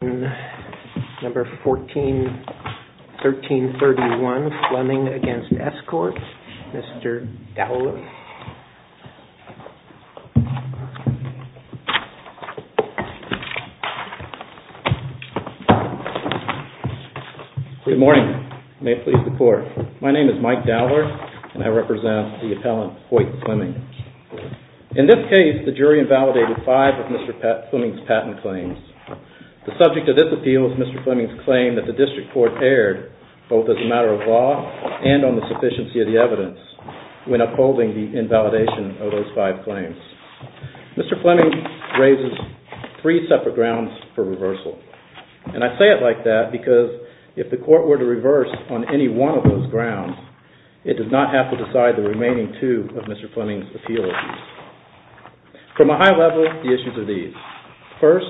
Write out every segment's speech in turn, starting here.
Number 141331 Fleming v. Escort, Mr. Dowler. Good morning. May it please the Court. My name is Mike Dowler and I represent the appellant Hoyt Fleming. In this case, the jury invalidated five of Mr. Fleming's patent claims. The subject of this appeal is Mr. Fleming's claim that the District Court erred, both as a matter of law and on the sufficiency of the evidence, when upholding the invalidation of those five claims. Mr. Fleming raises three separate grounds for reversal. And I say it like that because if the Court were to reverse on any one of those grounds, it does not have to decide the remaining two of Mr. Fleming's appeals. From a high level, the issues are these. First,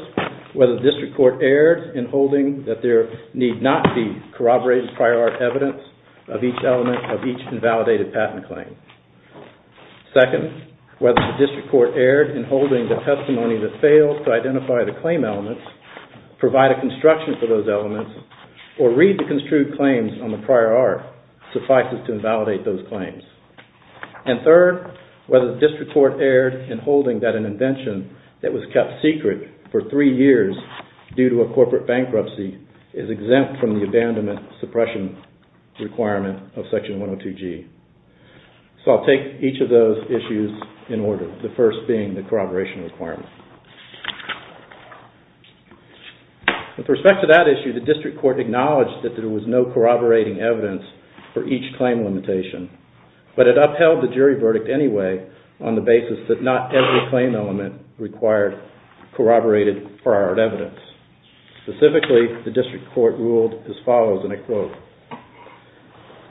whether the District Court erred in holding that there need not be corroborated prior art evidence of each element of each invalidated patent claim. Second, whether the District Court erred in holding the testimony that fails to identify the claim elements, provide a construction for those elements, or read the construed claims on the prior art suffices to invalidate those claims. And third, whether the District Court erred in holding that an invention that was kept secret for three years due to a corporate bankruptcy is exempt from the abandonment suppression requirement of Section 102G. So I'll take each of those issues in order, the first being the corroboration requirement. With respect to that issue, the District Court acknowledged that there was no corroborating evidence for each claim limitation, but it upheld the jury verdict anyway on the basis that not every claim element required corroborated prior art evidence. Specifically, the District Court ruled as follows, and I quote,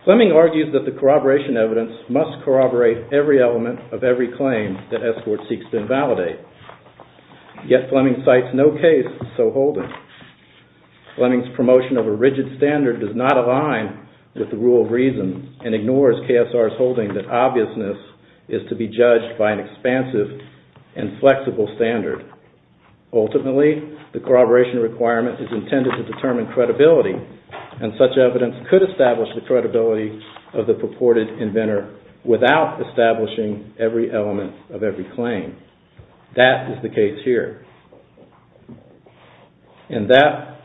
Fleming argues that the corroboration evidence must corroborate every element of every claim that S. Court seeks to invalidate. Yet Fleming cites no case so hold it. Fleming's promotion of a rigid standard does not align with the rule of reason and ignores KSR's holding that obviousness is to be judged by an expansive and flexible standard. Ultimately, the corroboration requirement is intended to determine credibility and such evidence could establish the credibility of the purported inventor without establishing every element of every claim. That is the case here. That,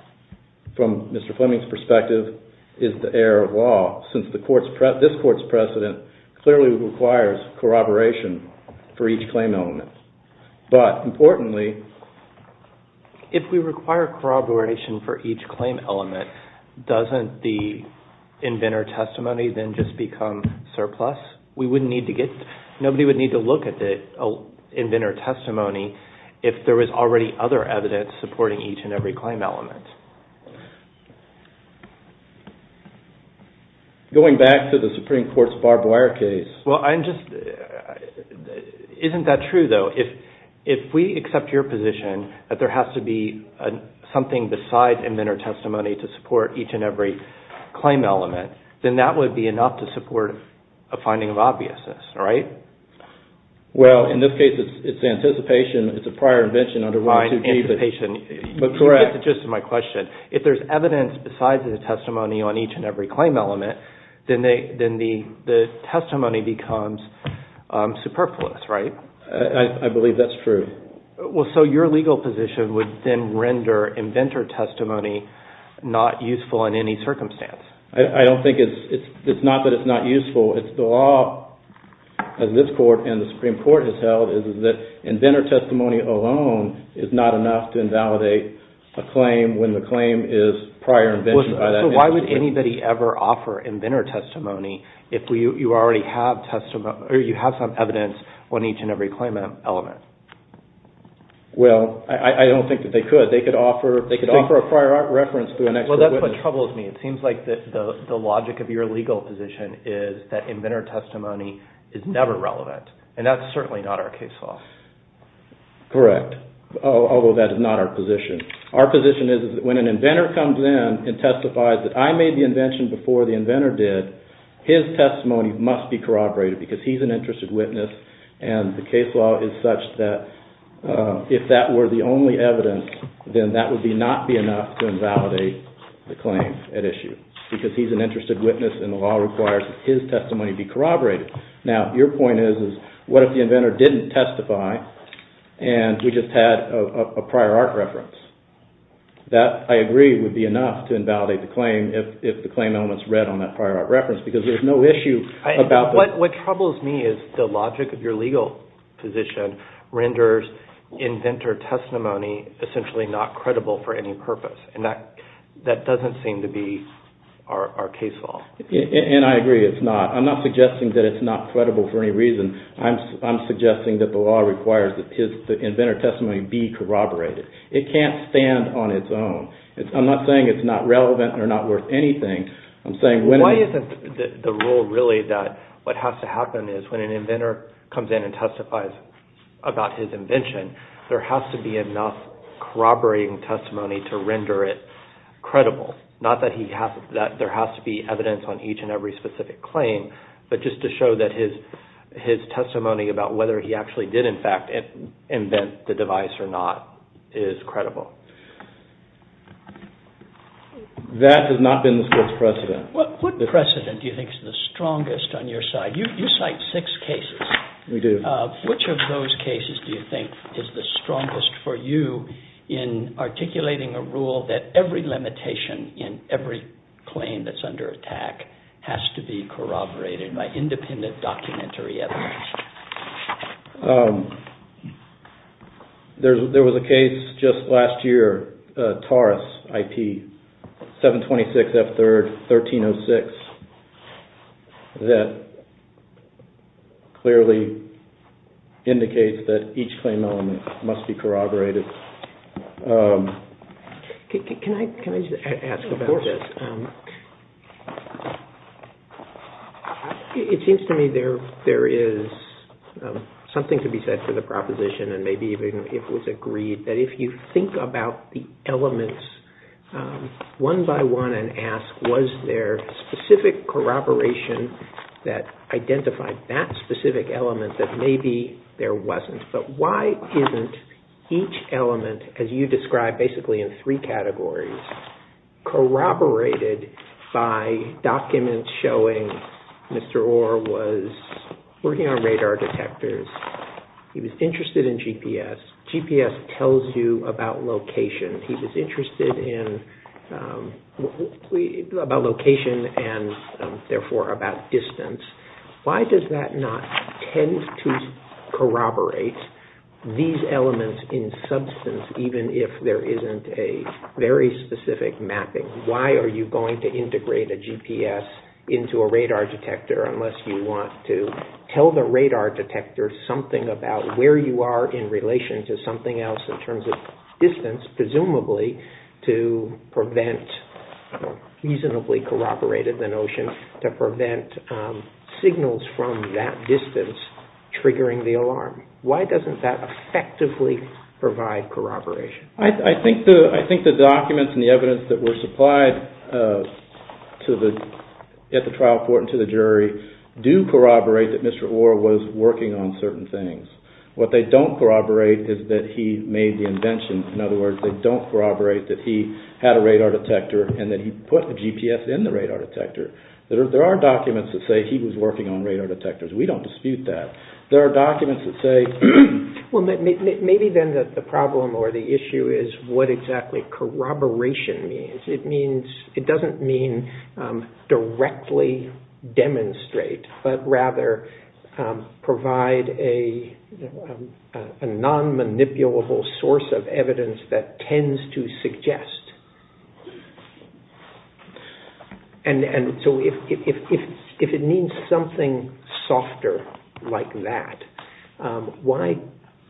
from Mr. Fleming's perspective, is the error of law, since this Court's precedent clearly requires corroboration for each claim element. But importantly, if we require corroboration for each claim element, doesn't the inventor testimony then just become surplus? We wouldn't need to get, nobody would need to look at the inventor testimony if there was already other evidence supporting each and every claim element. Going back to the Supreme Court's barbed wire case. Well, I'm just, isn't that true though? If we accept your position that there has to be something besides inventor testimony to support each and every claim element, then that would be enough to support a finding of obviousness, right? Well, in this case, it's anticipation. It's a prior invention. It's just my question. If there's evidence besides the testimony on each and every claim element, then the testimony becomes superfluous, right? I believe that's true. So your legal position would then render inventor testimony not useful in any circumstance. I don't think it's, it's not that it's not useful. It's the law of this Court and the Supreme Court has held is that inventor testimony alone is not enough to invalidate a claim when the claim is prior invention by that institution. So why would anybody ever offer inventor testimony if you already have some evidence on each and every claim element? Well, I don't think that they could. They could offer a prior reference through an expert witness. Well, that's what troubles me. It seems like the logic of your legal position is that inventor testimony is never relevant, and that's certainly not our case law. Correct, although that is not our position. Our position is that when an inventor comes in and testifies that I made the invention before the inventor did, his testimony must be corroborated because he's an interested witness, and the case law is such that if that were the only evidence, then that would not be enough to invalidate the claim at issue because he's an interested witness and the law requires that his testimony be corroborated. Now, your point is, is what if the inventor didn't testify and we just had a prior art reference? That, I agree, would be enough to invalidate the claim if the claim element's read on that prior art reference because there's no issue about that. What troubles me is the logic of your legal position renders inventor testimony essentially not credible for any purpose, and that doesn't seem to be our case law. And I agree. I'm not suggesting that it's not credible for any reason. I'm suggesting that the law requires that the inventor testimony be corroborated. It can't stand on its own. I'm not saying it's not relevant or not worth anything. Why isn't the rule really that what has to happen is when an inventor comes in and testifies about his invention, there has to be enough corroborating testimony to render it credible? Not that there has to be evidence on each and every specific claim, but just to show that his testimony about whether he actually did, in fact, invent the device or not is credible. That has not been the Court's precedent. What precedent do you think is the strongest on your side? You cite six cases. We do. Which of those cases do you think is the strongest for you in articulating a rule that every limitation in every claim that's under attack has to be corroborated by independent documentary evidence? There was a case just last year, Taurus IP 726 F3rd 1306, that clearly indicates that each claim element must be corroborated. Can I just ask about this? Of course. It seems to me there is something to be said for the proposition, and maybe even if it was agreed, that if you think about the elements one by one and ask was there specific corroboration that identified that specific element, that maybe there wasn't. But why isn't each element, as you described, basically in three categories, corroborated by documents showing Mr. Orr was working on radar detectors. He was interested in GPS. GPS tells you about location. He was interested in location and, therefore, about distance. Why does that not tend to corroborate these elements in substance, even if there isn't a very specific mapping? Why are you going to integrate a GPS into a radar detector unless you want to tell the radar detector something about where you are in relation to something else in terms of distance, presumably to prevent reasonably corroborated, Why doesn't that effectively provide corroboration? I think the documents and the evidence that were supplied at the trial court and to the jury do corroborate that Mr. Orr was working on certain things. What they don't corroborate is that he made the invention. In other words, they don't corroborate that he had a radar detector and that he put the GPS in the radar detector. There are documents that say he was working on radar detectors. We don't dispute that. There are documents that say... Well, maybe then the problem or the issue is what exactly corroboration means. It doesn't mean directly demonstrate, but rather provide a non-manipulable source of evidence that tends to suggest. And so if it means something softer like that, why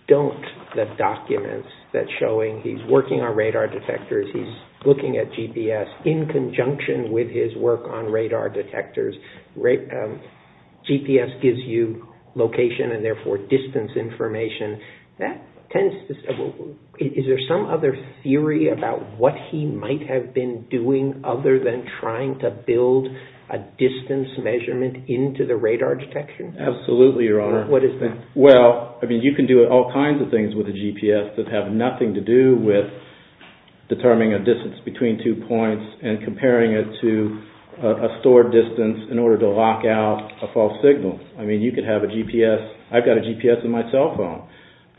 don't the documents that show he's working on radar detectors, he's looking at GPS in conjunction with his work on radar detectors. GPS gives you location and therefore distance information. Is there some other theory about what he might have been doing other than trying to build a distance measurement into the radar detection? Absolutely, Your Honor. What is that? Well, you can do all kinds of things with a GPS that have nothing to do with determining a distance between two points and comparing it to a stored distance in order to lock out a false signal. I mean, you could have a GPS. I've got a GPS in my cell phone.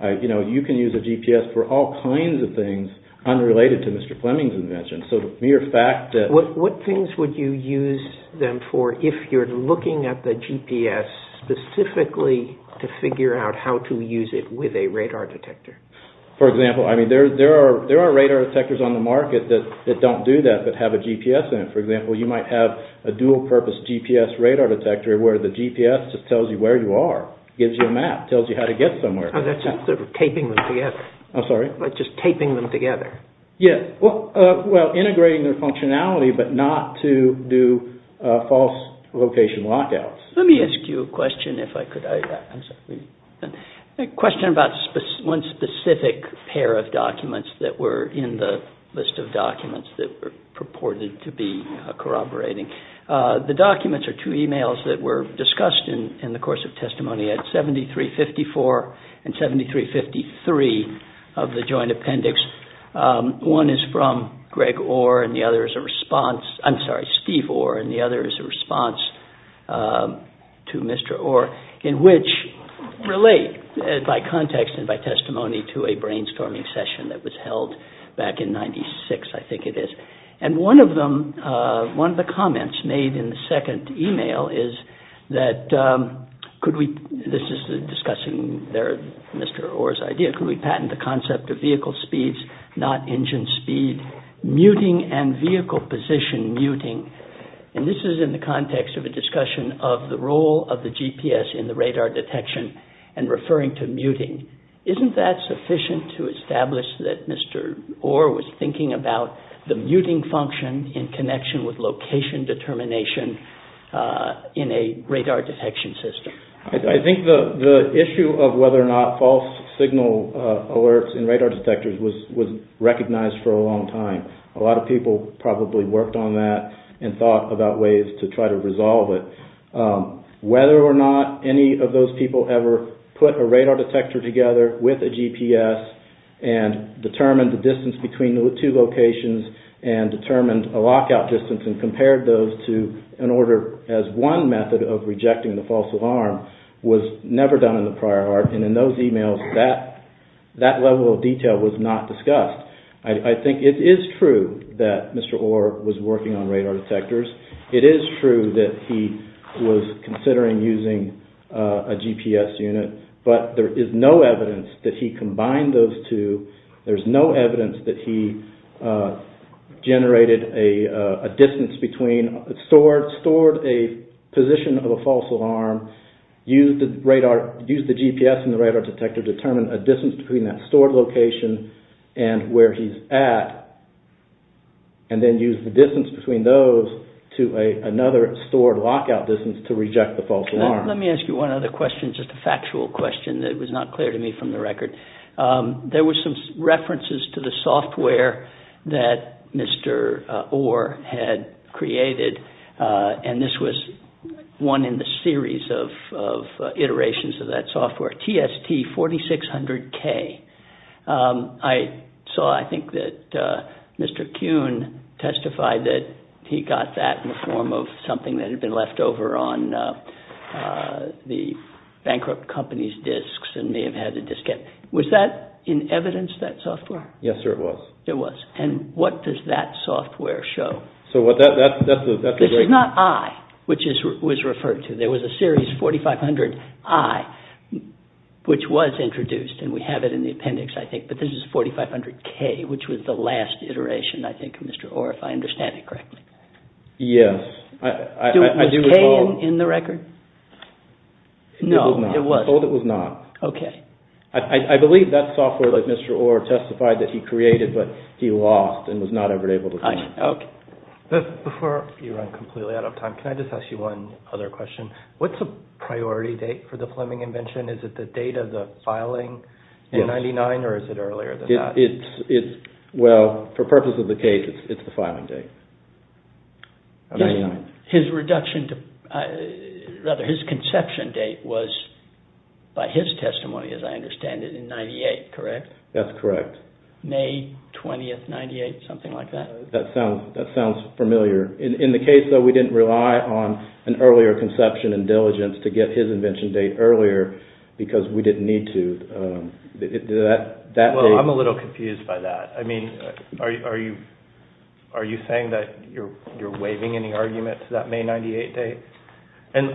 You can use a GPS for all kinds of things unrelated to Mr. Fleming's invention. So the mere fact that... What things would you use them for if you're looking at the GPS specifically to figure out how to use it with a radar detector? For example, I mean, there are radar detectors on the market that don't do that but have a GPS in it. For example, you might have a dual-purpose GPS radar detector where the GPS just tells you where you are, gives you a map, tells you how to get somewhere. Oh, that's just sort of taping them together. I'm sorry? Just taping them together. Yes, well, integrating their functionality but not to do false location lockouts. Let me ask you a question if I could. A question about one specific pair of documents that were in the list of documents that were purported to be corroborating. The documents are two emails that were discussed in the course of testimony at 7354 and 7353 of the joint appendix. One is from Greg Orr and the other is a response... I'm sorry, Steve Orr and the other is a response to Mr. Orr in which relate by context and by testimony to a brainstorming session that was held back in 96, I think it is. And one of the comments made in the second email is that could we... This is discussing Mr. Orr's idea. Could we patent the concept of vehicle speeds, not engine speed, muting and vehicle position muting? And this is in the context of a discussion of the role of the GPS in the radar detection and referring to muting. Isn't that sufficient to establish that Mr. Orr was thinking about the muting function in connection with location determination in a radar detection system? I think the issue of whether or not false signal alerts in radar detectors was recognized for a long time. A lot of people probably worked on that and thought about ways to try to resolve it. Whether or not any of those people ever put a radar detector together with a GPS and determined the distance between the two locations and determined a lockout distance and compared those to an order as one method of rejecting the false alarm was never done in the prior art. And in those emails, that level of detail was not discussed. I think it is true that Mr. Orr was working on radar detectors. It is true that he was considering using a GPS unit, but there is no evidence that he combined those two. There is no evidence that he generated a distance between, stored a position of a false alarm, used the GPS in the radar detector to determine a distance between that stored location and where he's at, and then used the distance between those to another stored lockout distance to reject the false alarm. Let me ask you one other question, just a factual question that was not clear to me from the record. There were some references to the software that Mr. Orr had created, and this was one in the series of iterations of that software, TST4600K. I saw, I think, that Mr. Kuhn testified that he got that in the form of something that had been left over on the bankrupt company's disks and may have had the diskette. Was that in evidence, that software? Yes, sir, it was. It was. And what does that software show? This is not I, which was referred to. There was a series 4500I, which was introduced, and we have it in the appendix, I think, but this is 4500K, which was the last iteration, I think, of Mr. Orr, if I understand it correctly. Yes. Was K in the record? No, it wasn't. I'm told it was not. Okay. I believe that software that Mr. Orr testified that he created, but he lost and was not ever able to find it. Okay. Before you run completely out of time, can I just ask you one other question? What's the priority date for the Fleming invention? Is it the date of the filing in 1999, or is it earlier than that? Well, for purposes of the case, it's the filing date, 1999. His conception date was, by his testimony, as I understand it, in 1998, correct? That's correct. May 20th, 1998, something like that? That sounds familiar. In the case, though, we didn't rely on an earlier conception and diligence to get his invention date earlier because we didn't need to. Well, I'm a little confused by that. I mean, are you saying that you're waiving any argument to that May 98 date? And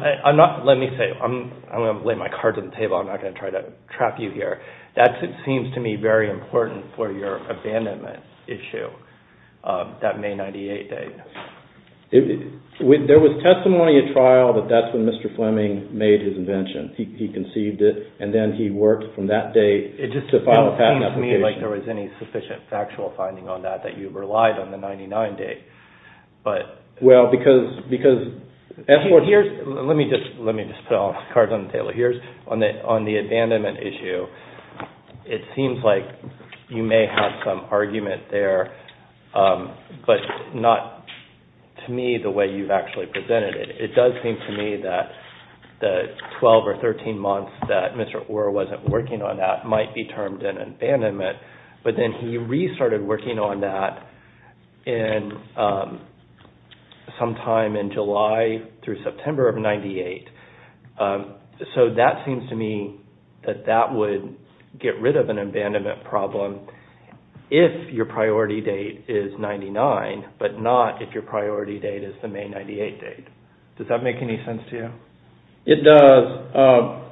let me say, I'm going to lay my cards on the table. I'm not going to try to trap you here. That seems to me very important for your abandonment issue, that May 98 date. There was testimony at trial that that's when Mr. Fleming made his invention. He conceived it, and then he worked from that date to file a patent application. It just doesn't seem to me like there was any sufficient factual finding on that, that you relied on the 99 date. Well, because— Let me just put all the cards on the table. On the abandonment issue, it seems like you may have some argument there, but not, to me, the way you've actually presented it. It does seem to me that the 12 or 13 months that Mr. Orr wasn't working on that might be termed an abandonment, but then he restarted working on that sometime in July through September of 98. So that seems to me that that would get rid of an abandonment problem if your priority date is 99, but not if your priority date is the May 98 date. Does that make any sense to you? It does.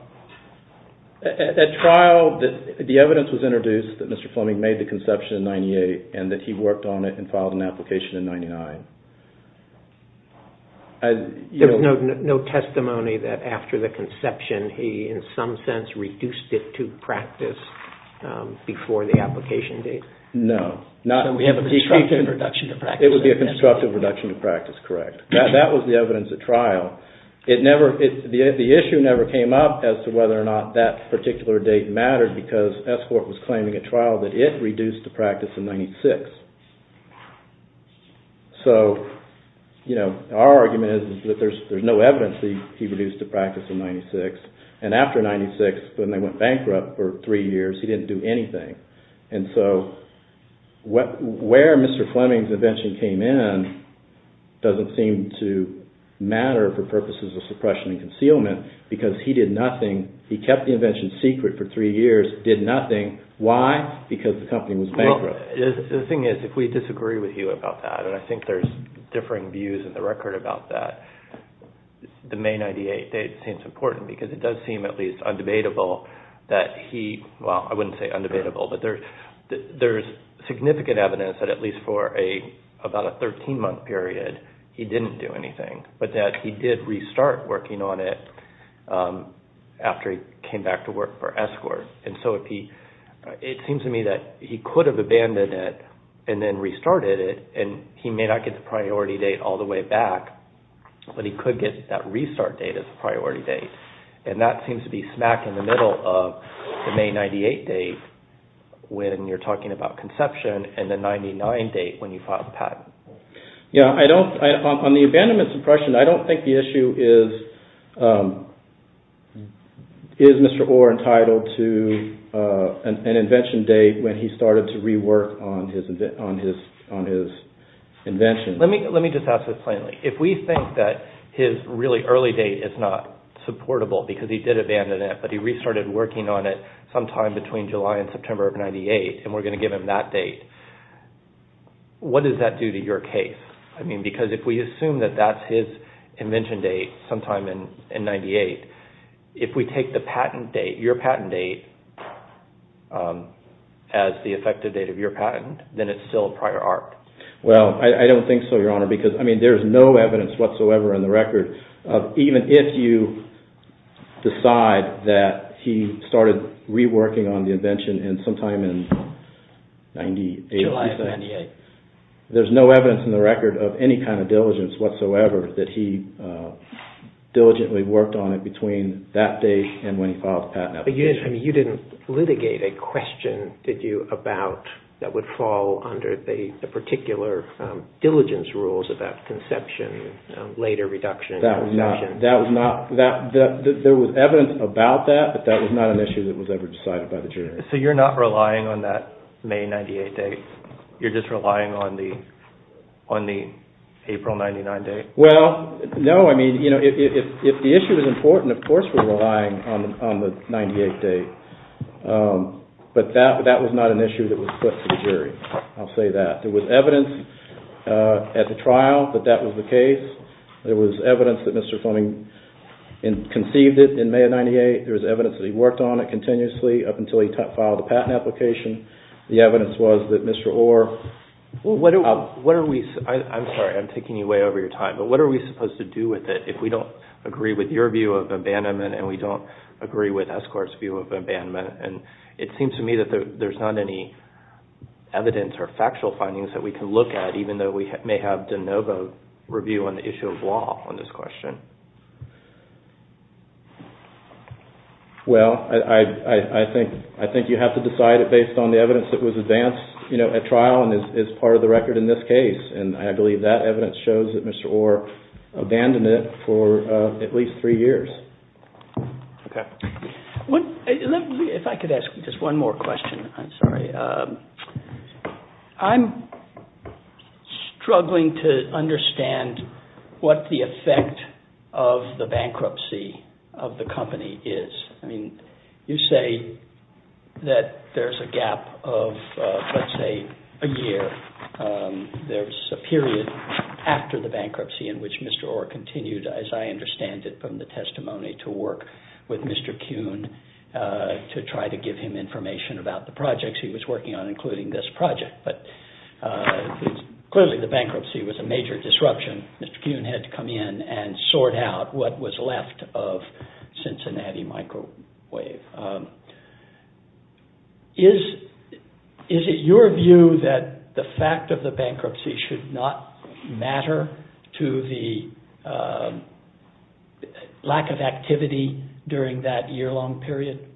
At trial, the evidence was introduced that Mr. Fleming made the conception in 98, and that he worked on it and filed an application in 99. There was no testimony that after the conception, he, in some sense, reduced it to practice before the application date. No. So we have a constructive reduction to practice. It would be a constructive reduction to practice, correct. That was the evidence at trial. The issue never came up as to whether or not that particular date mattered because S-Corp was claiming at trial that it reduced to practice in 96. So our argument is that there's no evidence that he reduced to practice in 96, and after 96, when they went bankrupt for three years, he didn't do anything. And so where Mr. Fleming's invention came in doesn't seem to matter for purposes of suppression and concealment because he did nothing. He kept the invention secret for three years, did nothing. Why? Because the company was bankrupt. So the thing is, if we disagree with you about that, and I think there's differing views in the record about that, the May 98 date seems important because it does seem at least undebatable that he, well, I wouldn't say undebatable, but there's significant evidence that at least for about a 13-month period, he didn't do anything, but that he did restart working on it after he came back to work for S-Corp. And so it seems to me that he could have abandoned it and then restarted it, and he may not get the priority date all the way back, but he could get that restart date as a priority date. And that seems to be smack in the middle of the May 98 date when you're talking about conception and the 99 date when you filed the patent. Yeah, on the abandonment suppression, I don't think the issue is, is Mr. Orr entitled to an invention date when he started to rework on his invention. Let me just ask this plainly. If we think that his really early date is not supportable because he did abandon it, but he restarted working on it sometime between July and September of 98, and we're going to give him that date, what does that do to your case? I mean, because if we assume that that's his invention date sometime in 98, if we take the patent date, your patent date, as the effective date of your patent, then it's still a prior art. Well, I don't think so, Your Honor, because, I mean, there's no evidence whatsoever in the record of even if you decide that he started reworking on the invention sometime in 98. July 98. There's no evidence in the record of any kind of diligence whatsoever that he diligently worked on it between that date and when he filed the patent application. But you didn't litigate a question, did you, about that would fall under the particular diligence rules about conception, later reduction in invention. That was not, there was evidence about that, but that was not an issue that was ever decided by the jury. So you're not relying on that May 98 date? You're just relying on the April 99 date? Well, no, I mean, you know, if the issue is important, of course we're relying on the 98 date. But that was not an issue that was put to the jury. I'll say that. There was evidence at the trial that that was the case. There was evidence that Mr. Fleming conceived it in May of 98. There was evidence that he worked on it continuously up until he filed the patent application. The evidence was that Mr. Orr… What are we, I'm sorry, I'm taking you way over your time, but what are we supposed to do with it if we don't agree with your view of abandonment and we don't agree with Escort's view of abandonment? And it seems to me that there's not any evidence or factual findings that we can look at, even though we may have de novo review on the issue of law on this question. Well, I think you have to decide it based on the evidence that was advanced at trial and is part of the record in this case. And I believe that evidence shows that Mr. Orr abandoned it for at least three years. Okay. If I could ask just one more question, I'm sorry. I'm struggling to understand what the effect of the bankruptcy of the company is. I mean, you say that there's a gap of, let's say, a year. There's a period after the bankruptcy in which Mr. Orr continued, as I understand it from the testimony, to work with Mr. Kuhn to try to give him information about the projects he was working on, including this project. But clearly the bankruptcy was a major disruption. Mr. Kuhn had to come in and sort out what was left of Cincinnati Microwave. Is it your view that the fact of the bankruptcy should not matter to the lack of activity during that year-long period?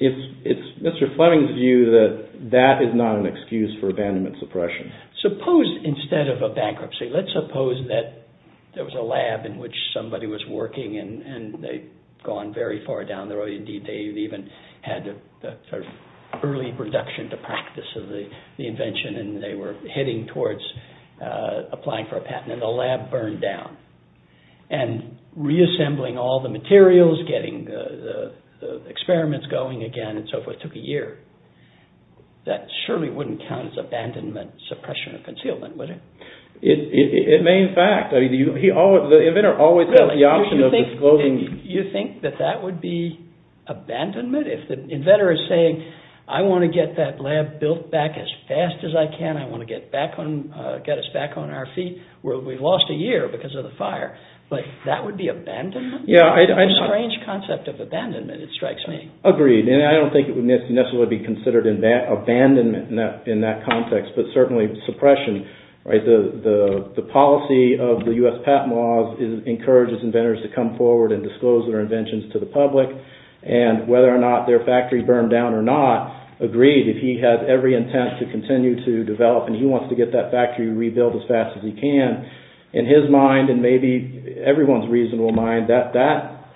It's Mr. Fleming's view that that is not an excuse for abandonment suppression. Suppose instead of a bankruptcy, let's suppose that there was a lab in which somebody was working and they'd gone very far down the road. Indeed, they even had an early reduction to practice of the invention and they were heading towards applying for a patent and the lab burned down. And reassembling all the materials, getting the experiments going again, and so forth, took a year. That surely wouldn't count as abandonment suppression or concealment, would it? It may, in fact. The inventor always has the option of disclosing... You think that that would be abandonment? If the inventor is saying, I want to get that lab built back as fast as I can, I want to get us back on our feet, we've lost a year because of the fire. That would be abandonment? A strange concept of abandonment, it strikes me. Agreed. And I don't think it would necessarily be considered abandonment in that context, but certainly suppression. The policy of the U.S. patent laws encourages inventors to come forward and disclose their inventions to the public. And whether or not their factory burned down or not, agreed, if he had every intent to continue to develop and he wants to get that factory rebuilt as fast as he can, in his mind and maybe everyone's reasonable mind, that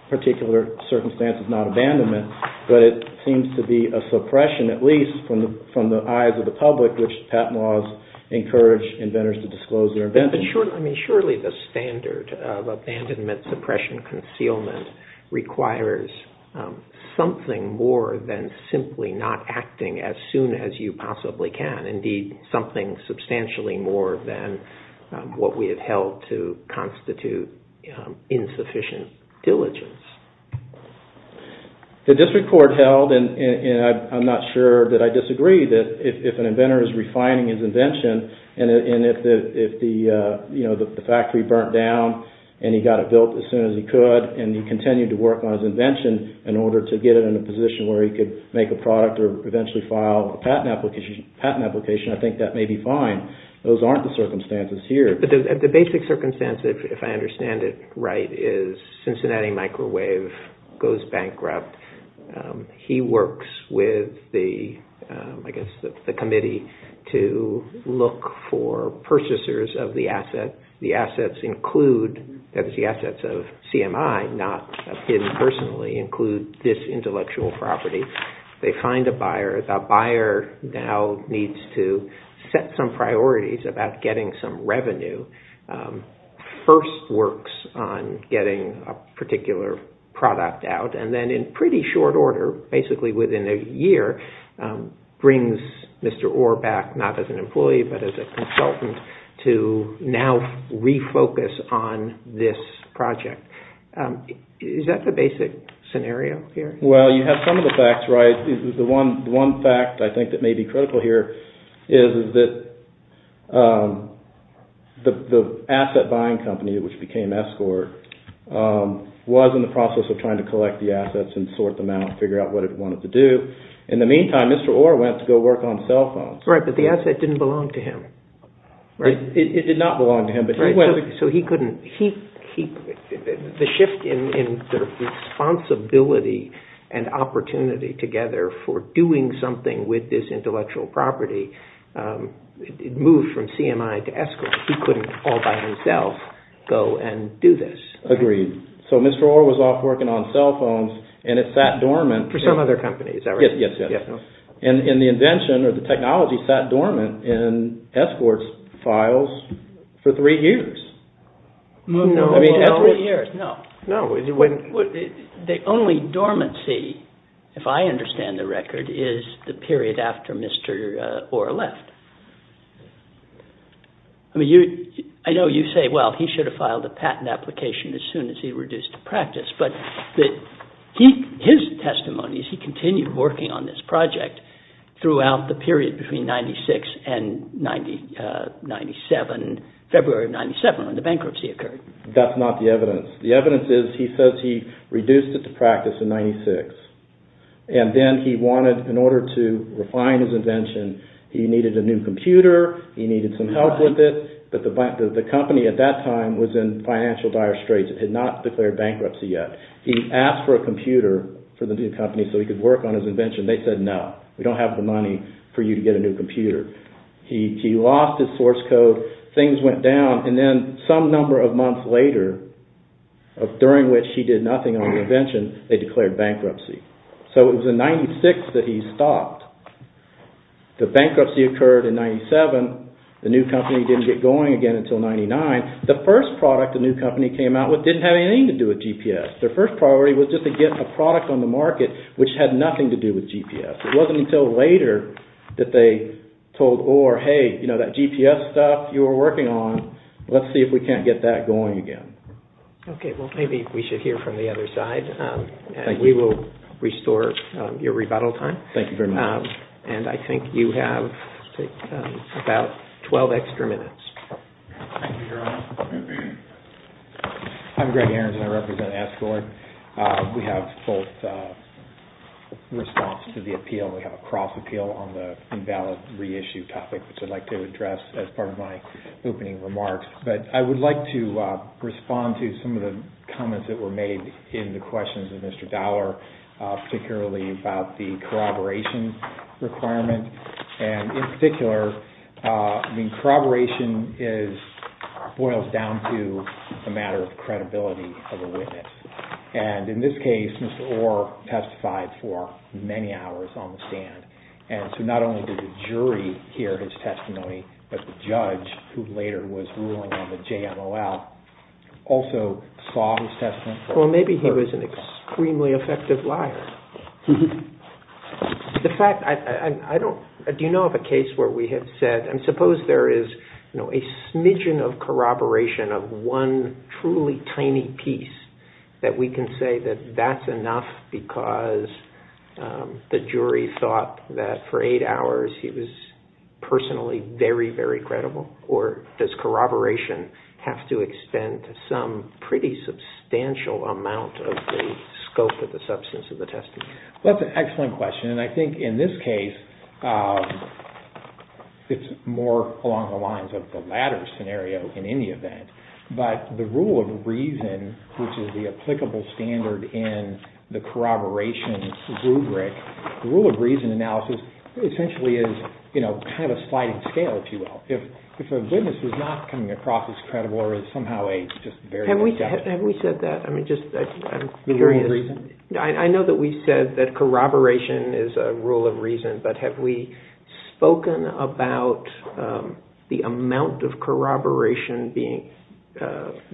particular circumstance is not abandonment, but it seems to be a suppression, at least from the eyes of the public, which patent laws encourage inventors to disclose their inventions. Surely the standard of abandonment suppression and concealment requires something more than simply not acting as soon as you possibly can. Indeed, something substantially more than what we have held to constitute insufficient diligence. The district court held, and I'm not sure that I disagree, that if an inventor is refining his invention and if the factory burnt down and he got it built as soon as he could and he continued to work on his invention in order to get it in a position where he could make a product or eventually file a patent application, I think that may be fine. Those aren't the circumstances here. The basic circumstance, if I understand it right, is Cincinnati Microwave goes bankrupt. He works with the committee to look for purchasers of the asset. The assets include, that is the assets of CMI, not him personally, include this intellectual property. They find a buyer. The buyer now needs to set some priorities about getting some revenue. First works on getting a particular product out, and then in pretty short order, basically within a year, brings Mr. Orr back, not as an employee but as a consultant, to now refocus on this project. Is that the basic scenario here? Well, you have some of the facts right. The one fact I think that may be critical here is that the asset buying company, which became Escort, was in the process of trying to collect the assets and sort them out and figure out what it wanted to do. In the meantime, Mr. Orr went to go work on cell phones. Right, but the asset didn't belong to him. It did not belong to him. So the shift in the responsibility and opportunity together for doing something with this intellectual property moved from CMI to Escort. He couldn't all by himself go and do this. Agreed. So Mr. Orr was off working on cell phones, and it sat dormant. For some other companies, is that right? Yes. And the invention or the technology sat dormant in Escort's files for three years. No, not three years. No. The only dormancy, if I understand the record, is the period after Mr. Orr left. I know you say, well, he should have filed a patent application as soon as he reduced the practice, but his testimony is he continued working on this project throughout the period between 1996 and February of 1997 when the bankruptcy occurred. That's not the evidence. The evidence is he says he reduced it to practice in 1996, and then he wanted, in order to refine his invention, he needed a new computer, he needed some help with it, but the company at that time was in financial dire straits. It had not declared bankruptcy yet. He asked for a computer for the new company so he could work on his invention. They said, no, we don't have the money for you to get a new computer. He lost his source code. Things went down, and then some number of months later, during which he did nothing on the invention, they declared bankruptcy. So it was in 1996 that he stopped. The bankruptcy occurred in 1997. The new company didn't get going again until 1999. The first product the new company came out with didn't have anything to do with GPS. Their first priority was just to get a product on the market which had nothing to do with GPS. It wasn't until later that they told Orr, hey, that GPS stuff you were working on, let's see if we can't get that going again. Okay, well, maybe we should hear from the other side. We will restore your rebuttal time. Thank you very much. And I think you have about 12 extra minutes. Thank you, Gerald. I'm Greg Ahrens, and I represent Escort. We have both response to the appeal. We have a cross-appeal on the invalid reissue topic, which I'd like to address as part of my opening remarks. But I would like to respond to some of the comments that were made in the questions of Mr. Dower, particularly about the corroboration requirement. And in particular, corroboration boils down to the matter of credibility of a witness. And in this case, Mr. Orr testified for many hours on the stand. And so not only did the jury hear his testimony, but the judge, who later was ruling on the JMOL, also saw his testimony. Well, maybe he was an extremely effective liar. Do you know of a case where we have said, and suppose there is a smidgen of corroboration of one truly tiny piece that we can say that that's enough because the jury thought that for eight hours he was personally very, very credible? Or does corroboration have to extend to some pretty substantial amount of the scope of the substance of the testimony? Well, that's an excellent question. And I think in this case it's more along the lines of the latter scenario in any event. But the rule of reason, which is the applicable standard in the corroboration rubric, the rule of reason analysis essentially is kind of a sliding scale, if you will. If a witness is not coming across as credible or is somehow just very acceptable. Have we said that? I'm curious. The rule of reason? I know that we've said that corroboration is a rule of reason, but have we spoken about the amount of corroboration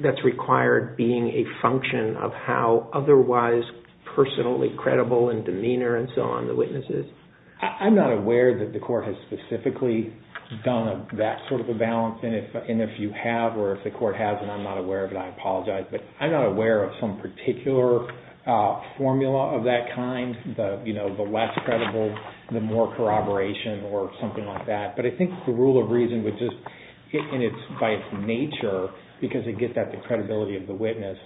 that's required being a function of how otherwise personally credible in demeanor and so on the witness is? I'm not aware that the court has specifically done that sort of a balance. And if you have, or if the court has, and I'm not aware of it, I apologize. But I'm not aware of some particular formula of that kind. The less credible, the more corroboration or something like that. But I think the rule of reason would just, by its nature, because it gets at the credibility of the witness,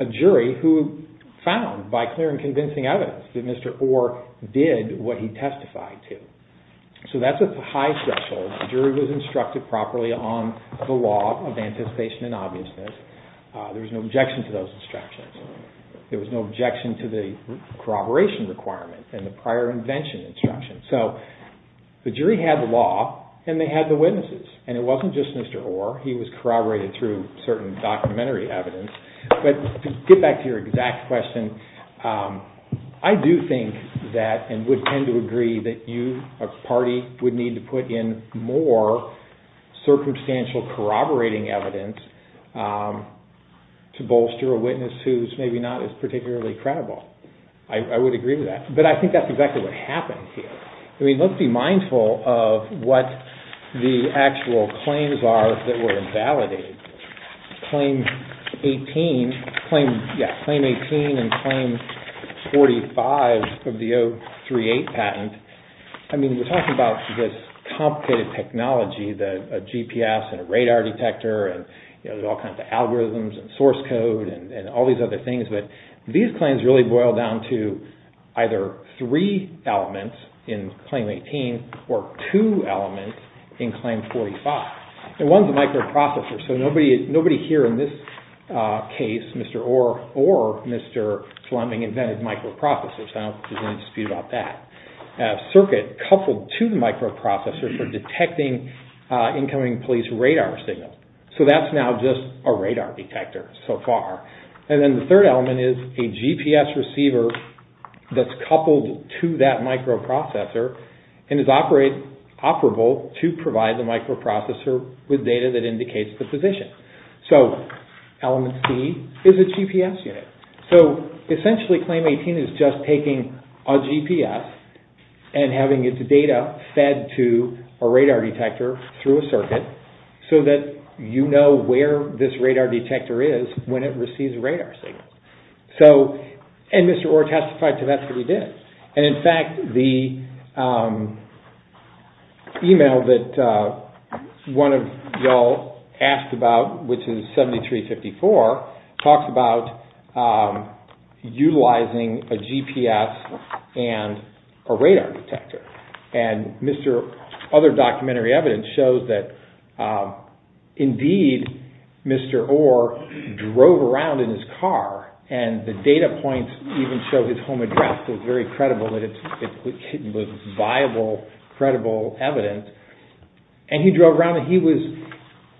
a jury who found by clear and convincing evidence that Mr. Orr did what he testified to. So that's a high threshold. The jury was instructed properly on the law of anticipation and obviousness. There was no objection to those instructions. There was no objection to the corroboration requirement and the prior invention instruction. So the jury had the law and they had the witnesses. And it wasn't just Mr. Orr. He was corroborated through certain documentary evidence. But to get back to your exact question, I do think that, and would tend to agree that you, a party, would need to put in more circumstantial corroborating evidence to bolster a witness who's maybe not as particularly credible. I would agree with that. But I think that's exactly what happened here. Let's be mindful of what the actual claims are that were invalidated. Claim 18 and Claim 45 of the 038 patent. I mean, we're talking about this complicated technology, a GPS and a radar detector and there's all kinds of algorithms and source code and all these other things. But these claims really boil down to either three elements in Claim 18 or two elements in Claim 45. And one's a microprocessor. So nobody here in this case, Mr. Orr or Mr. Fleming, invented microprocessors. There's no dispute about that. A circuit coupled to the microprocessor for detecting incoming police radar signals. So that's now just a radar detector so far. And then the third element is a GPS receiver that's coupled to that microprocessor and is operable to provide the microprocessor with data that indicates the position. So element C is a GPS unit. So essentially Claim 18 is just taking a GPS and having its data fed to a radar detector through a circuit so that you know where this radar detector is when it receives a radar signal. And Mr. Orr testified to that, so he did. And, in fact, the email that one of y'all asked about, which is 7354, talks about utilizing a GPS and a radar detector. And other documentary evidence shows that, indeed, Mr. Orr drove around in his car and the data points even show that his home address was very credible, that it was viable, credible evidence. And he drove around and he was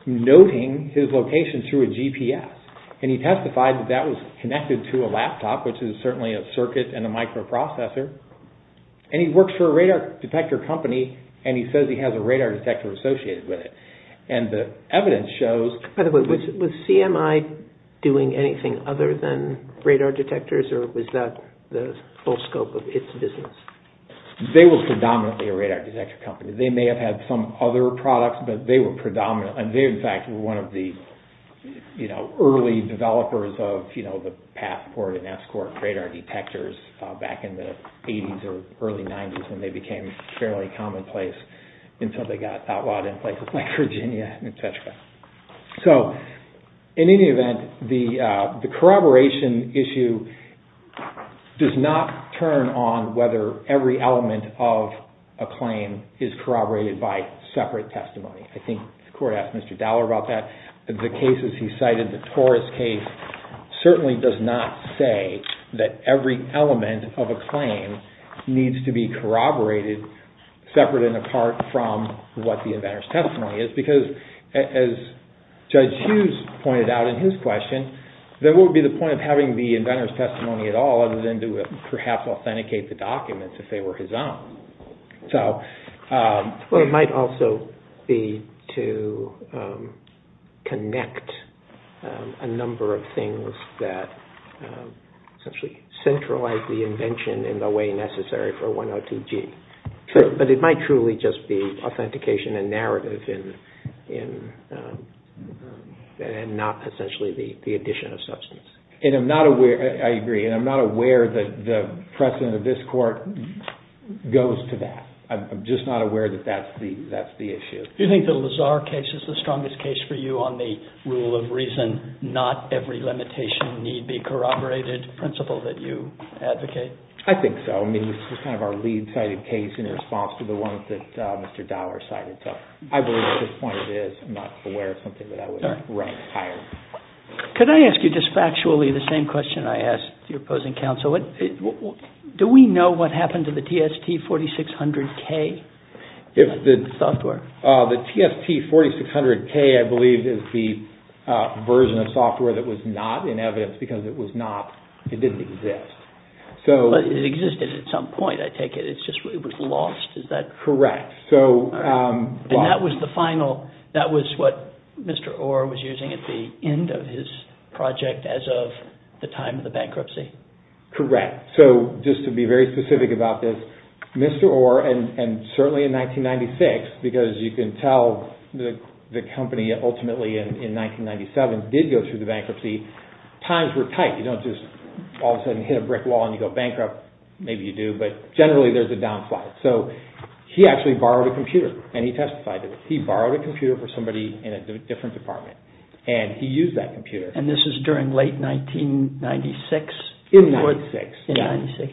noting his location through a GPS. And he testified that that was connected to a laptop, which is certainly a circuit and a microprocessor. And he works for a radar detector company and he says he has a radar detector associated with it. And the evidence shows... By the way, was CMI doing anything other than radar detectors or was that the full scope of its business? They were predominantly a radar detector company. They may have had some other products, but they were predominant. And they, in fact, were one of the early developers of the Passport and Escort radar detectors back in the 80s or early 90s when they became fairly commonplace until they got outlawed in places like Virginia, et cetera. So, in any event, the corroboration issue does not turn on whether every element of a claim is corroborated by separate testimony. I think the court asked Mr. Dowler about that. The cases he cited, the Torres case, certainly does not say that every element of a claim needs to be corroborated separate and apart from what the inventor's testimony is. Because, as Judge Hughes pointed out in his question, there would be the point of having the inventor's testimony at all other than to perhaps authenticate the documents if they were his own. Well, it might also be to connect a number of things that essentially centralize the invention in the way necessary for 102G. But it might truly just be authentication and narrative and not essentially the addition of substance. And I'm not aware, I agree, and I'm not aware that the precedent of this court goes to that. I'm just not aware that that's the issue. Do you think the Lazar case is the strongest case for you on the rule of reason not every limitation need be corroborated principle that you advocate? I think so. I mean, this is kind of our lead cited case in response to the ones that Mr. Dower cited. So I believe at this point it is. I'm not aware of something that I would rank higher. Could I ask you just factually the same question I asked your opposing counsel? Do we know what happened to the TST 4600K software? The TST 4600K, I believe, is the version of software that was not in evidence because it was not, it didn't exist. But it existed at some point, I take it. It's just it was lost, is that correct? Correct. And that was the final, that was what Mr. Orr was using at the end of his project as of the time of the bankruptcy? Correct. So just to be very specific about this, Mr. Orr, and certainly in 1996, because you can tell the company ultimately in 1997 did go through the bankruptcy, times were tight. You don't just all of a sudden hit a brick wall and you go bankrupt. Maybe you do, but generally there's a downslide. So he actually borrowed a computer and he testified to it. He borrowed a computer for somebody in a different department and he used that computer. And this is during late 1996? In 96. In 96.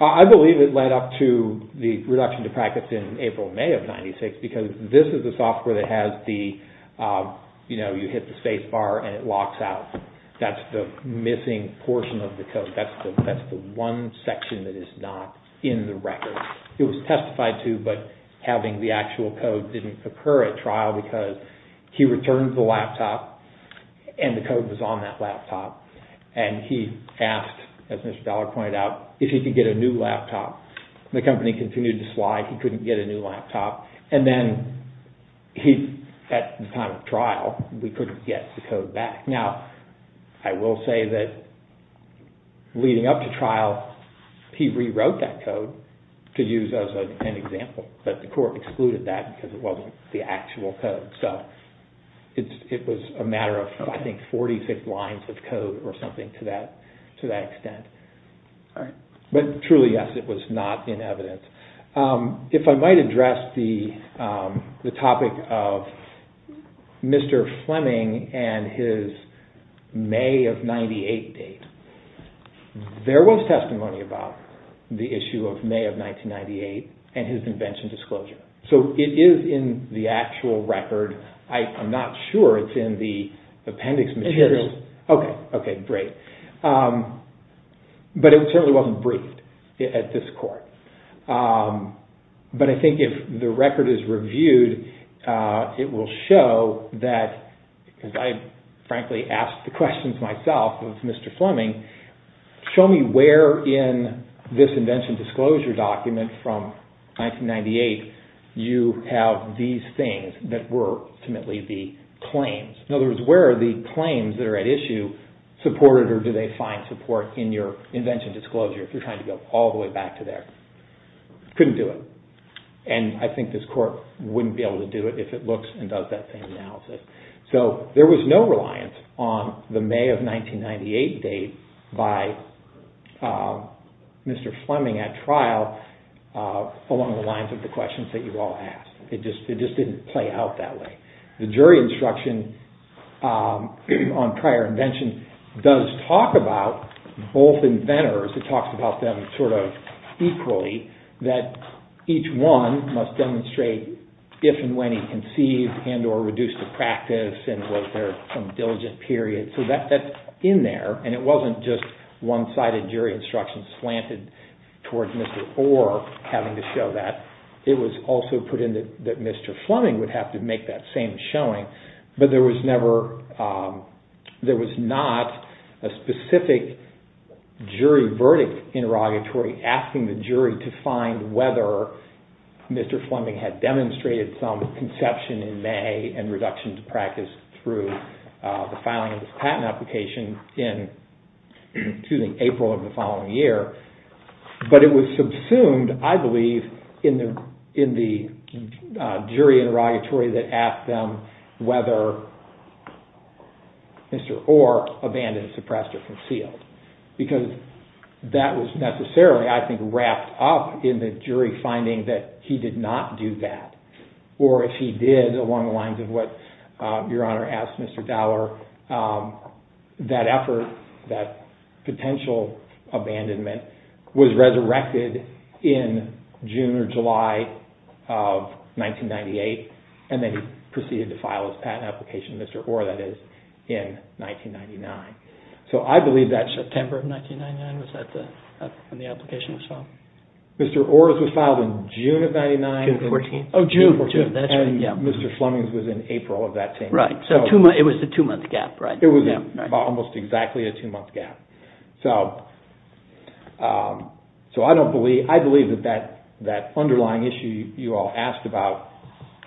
I believe it led up to the reduction to packets in April, May of 96 because this is the software that has the, you know, you hit the space bar and it locks out. That's the missing portion of the code. That's the one section that is not in the record. It was testified to, but having the actual code didn't occur at trial because he returned the laptop and the code was on that laptop. And he asked, as Mr. Dollar pointed out, if he could get a new laptop. The company continued to slide. He couldn't get a new laptop. And then he, at the time of trial, we couldn't get the code back. Now, I will say that leading up to trial, he rewrote that code to use as an example, but the court excluded that because it wasn't the actual code. So it was a matter of, I think, 46 lines of code or something to that extent. But truly, yes, it was not in evidence. If I might address the topic of Mr. Fleming and his May of 98 date, there was testimony about the issue of May of 1998 and his invention disclosure. So it is in the actual record. I'm not sure it's in the appendix materials. Okay, great. But it certainly wasn't briefed at this court. But I think if the record is reviewed, it will show that, because I frankly asked the questions myself of Mr. Fleming, show me where in this invention disclosure document from 1998 you have these things that were ultimately the claims. In other words, where are the claims that are at issue supported or do they find support in your invention disclosure if you're trying to go all the way back to there? Couldn't do it. And I think this court wouldn't be able to do it if it looks and does that same analysis. So there was no reliance on the May of 1998 date by Mr. Fleming at trial along the lines of the questions that you've all asked. It just didn't play out that way. The jury instruction on prior invention does talk about both inventors. It talks about them sort of equally, that each one must demonstrate if and when he conceived and or reduced to practice and was there some diligent period. So that's in there. And it wasn't just one-sided jury instruction slanted towards Mr. Orr having to show that. It was also put in that Mr. Fleming would have to make that same showing. But there was never – there was not a specific jury verdict interrogatory asking the jury to find whether Mr. Fleming had demonstrated some conception in May and reduction to practice through the filing of his patent application in, excuse me, April of the following year. But it was subsumed, I believe, in the jury interrogatory that asked them whether Mr. Orr abandoned, suppressed, or concealed. Because that was necessarily, I think, wrapped up in the jury finding that he did not do that. Or if he did along the lines of what Your Honor asked Mr. Orr, that effort, that potential abandonment was resurrected in June or July of 1998 and then he proceeded to file his patent application, Mr. Orr, that is, in 1999. So I believe that's – September of 1999, was that when the application was filed? Mr. Orr's was filed in June of 1999. June 14th. Oh, June 14th. And Mr. Fleming's was in April of that same year. Right. So it was a two-month gap, right? It was almost exactly a two-month gap. So I don't believe – I believe that that underlying issue you all asked about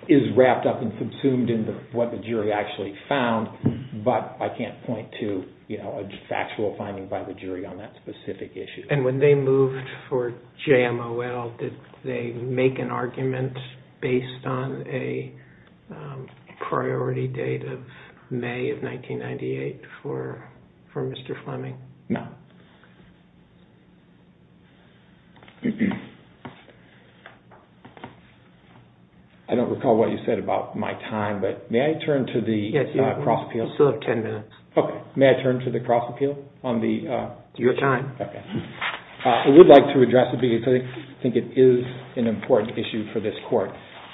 is wrapped up and subsumed into what the jury actually found, but I can't point to a factual finding by the jury on that specific issue. And when they moved for JMOL, did they make an argument based on a priority date of May of 1998 for Mr. Fleming? No. I don't recall what you said about my time, but may I turn to the cross-appeal? Yes. You still have 10 minutes. Okay. May I turn to the cross-appeal on the – Your time. Okay. I would like to address it because I think it is an important issue for this court.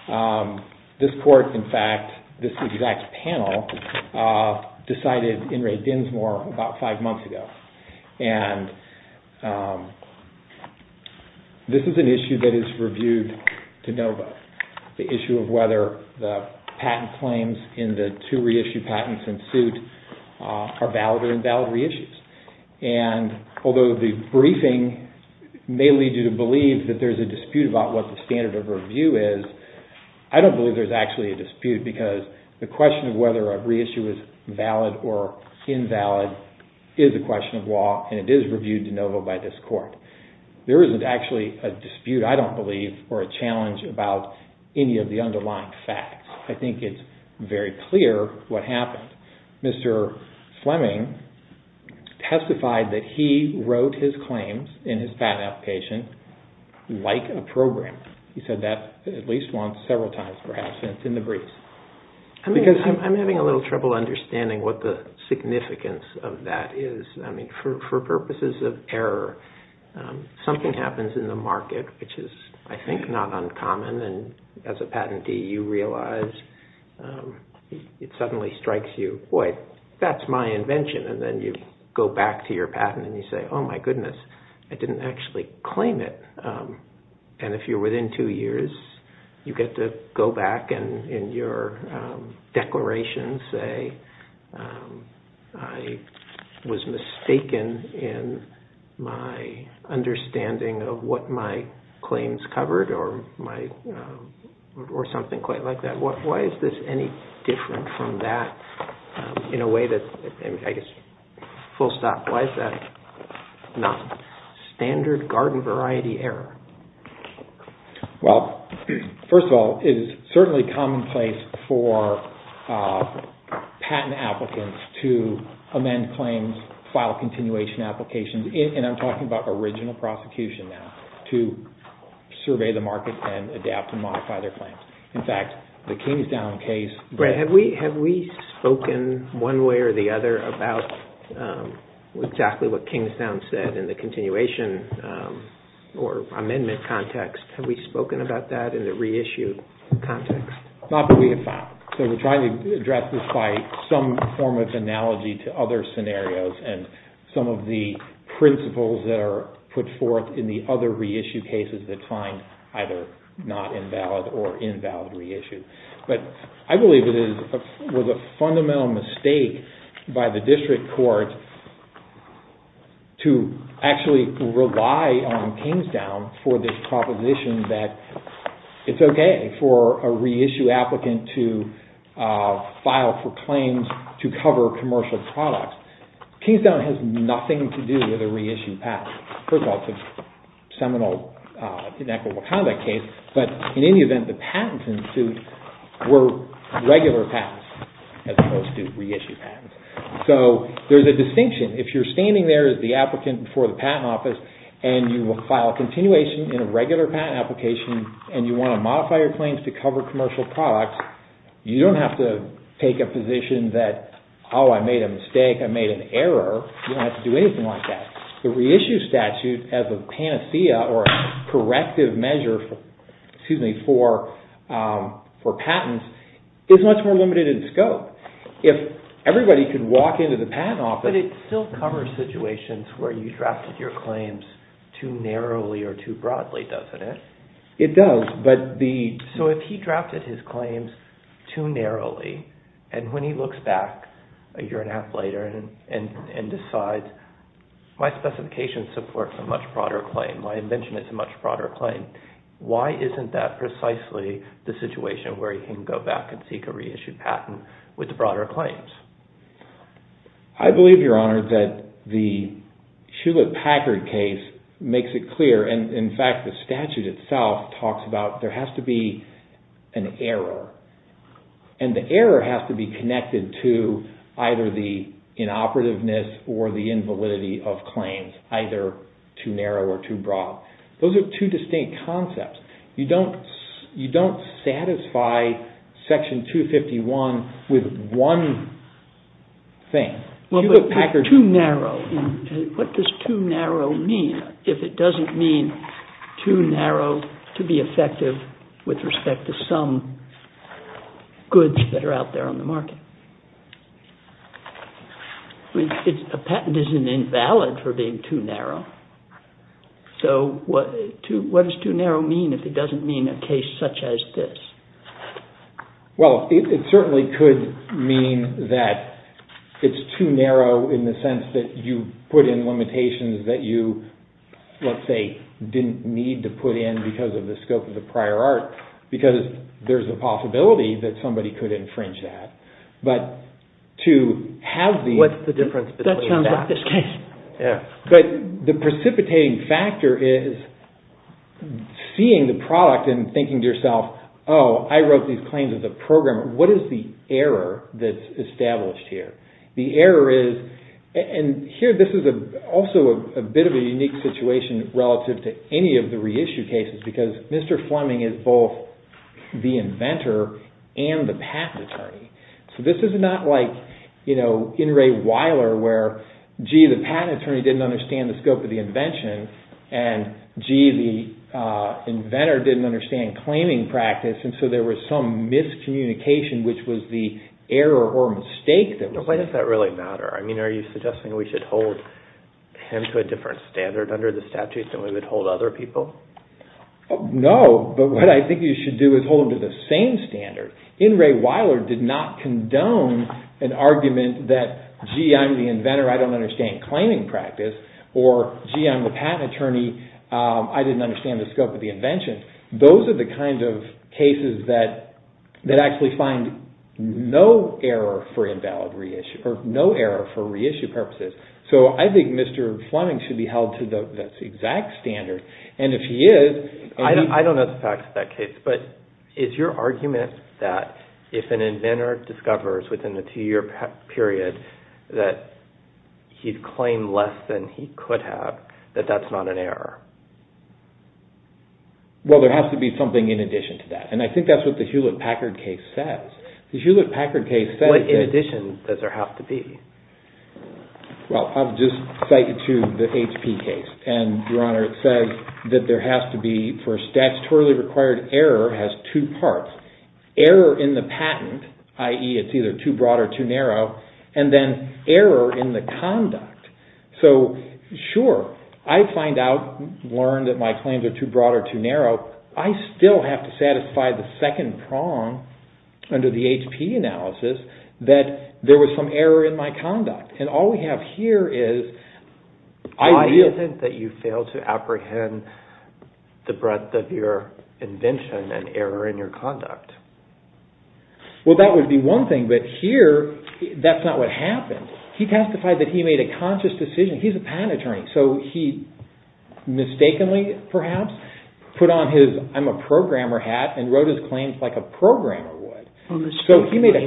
In fact, this exact panel decided in Ray Dinsmore about five months ago. And this is an issue that is reviewed to no vote, the issue of whether the patent claims in the two reissued patents in suit are valid or invalid reissues. And although the briefing may lead you to believe that there is a dispute because the question of whether a reissue is valid or invalid is a question of law, and it is reviewed to no vote by this court. There isn't actually a dispute, I don't believe, or a challenge about any of the underlying facts. I think it's very clear what happened. Mr. Fleming testified that he wrote his claims in his patent application like a program. He said that at least once, several times perhaps, in the briefs. I'm having a little trouble understanding what the significance of that is. I mean, for purposes of error, something happens in the market, which is, I think, not uncommon. And as a patentee, you realize it suddenly strikes you, boy, that's my invention. And then you go back to your patent and you say, oh, my goodness, I didn't actually claim it. And if you're within two years, you get to go back and in your declaration say, I was mistaken in my understanding of what my claims covered or something quite like that. Why is this any different from that in a way that, I guess, full stop, why is that not standard garden variety error? Well, first of all, it is certainly commonplace for patent applicants to amend claims, file continuation applications, and I'm talking about original prosecution now, to survey the market and adapt and modify their claims. In fact, the Kingstown case- Brad, have we spoken one way or the other about exactly what Kingstown said in the continuation or amendment context? Have we spoken about that in the reissue context? Not that we have found. So we're trying to address this by some form of analogy to other scenarios and some of the principles that are put forth in the other reissue cases that find either not invalid or invalid reissue. But I believe it was a fundamental mistake by the district court to actually rely on Kingstown for this proposition that it's okay for a reissue applicant to file for claims to cover commercial products. Kingstown has nothing to do with a reissue patent. First of all, it's a seminal inequitable conduct case, but in any event, the patents ensued were regular patents as opposed to reissue patents. So there's a distinction. If you're standing there as the applicant before the patent office and you will file a continuation in a regular patent application and you want to modify your claims to cover commercial products, you don't have to take a position that, oh, I made a mistake, I made an error. You don't have to do anything like that. The reissue statute as a panacea or corrective measure for patents is much more limited in scope. If everybody could walk into the patent office... But it still covers situations where you drafted your claims too narrowly or too broadly, doesn't it? It does, but the... So if he drafted his claims too narrowly and when he looks back a year and a half later and decides, my specification supports a much broader claim, my invention is a much broader claim, why isn't that precisely the situation where he can go back and seek a reissue patent with the broader claims? I believe, Your Honor, that the Hewlett-Packard case makes it clear and, in fact, the statute itself talks about there has to be an error and the error has to be connected to either the inoperativeness or the invalidity of claims, either too narrow or too broad. Those are two distinct concepts. You don't satisfy Section 251 with one thing. Hewlett-Packard... Too narrow. What does too narrow mean if it doesn't mean too narrow to be effective with respect to some goods that are out there on the market? A patent isn't invalid for being too narrow. So what does too narrow mean if it doesn't mean a case such as this? Well, it certainly could mean that it's too narrow in the sense that you put in limitations that you, let's say, didn't need to put in because of the scope of the prior art because there's a possibility that somebody could infringe that. But to have the... What's the difference between that? That sounds like this case. But the precipitating factor is seeing the product and thinking to yourself, oh, I wrote these claims as a program. What is the error that's established here? The error is... And here this is also a bit of a unique situation relative to any of the reissue cases because Mr. Fleming is both the inventor and the patent attorney. So this is not like, you know, In re Weiler where, gee, the patent attorney didn't understand the scope of the invention and, gee, the inventor didn't understand claiming practice and so there was some miscommunication which was the error or mistake that was... Why does that really matter? I mean, are you suggesting we should hold him to a different standard under the statutes than we would hold other people? No, but what I think you should do is hold him to the same standard. In re Weiler did not condone an argument that, gee, I'm the inventor, I don't understand claiming practice or, gee, I'm the patent attorney, I didn't understand the scope of the invention. Those are the kinds of cases that actually find no error for invalid reissue or no error for reissue purposes. So I think Mr. Fleming should be held to the exact standard. And if he is... I don't know the facts of that case, but is your argument that if an inventor discovers within a two-year period that he'd claim less than he could have, that that's not an error? Well, there has to be something in addition to that. And I think that's what the Hewlett-Packard case says. The Hewlett-Packard case says... What in addition does there have to be? Well, I'll just cite you to the HP case. And, Your Honor, it says that there has to be, for statutorily required error, has two parts. Error in the patent, i.e. it's either too broad or too narrow, and then error in the conduct. So, sure, I find out, learn that my claims are too broad or too narrow. I still have to satisfy the second prong under the HP analysis that there was some error in my conduct. And all we have here is... Why is it that you fail to apprehend the breadth of your invention and error in your conduct? Well, that would be one thing. But here, that's not what happened. He testified that he made a conscious decision. He's a patent attorney. So he mistakenly, perhaps, put on his I'm a programmer hat and wrote his claims like a programmer would. Mistakenly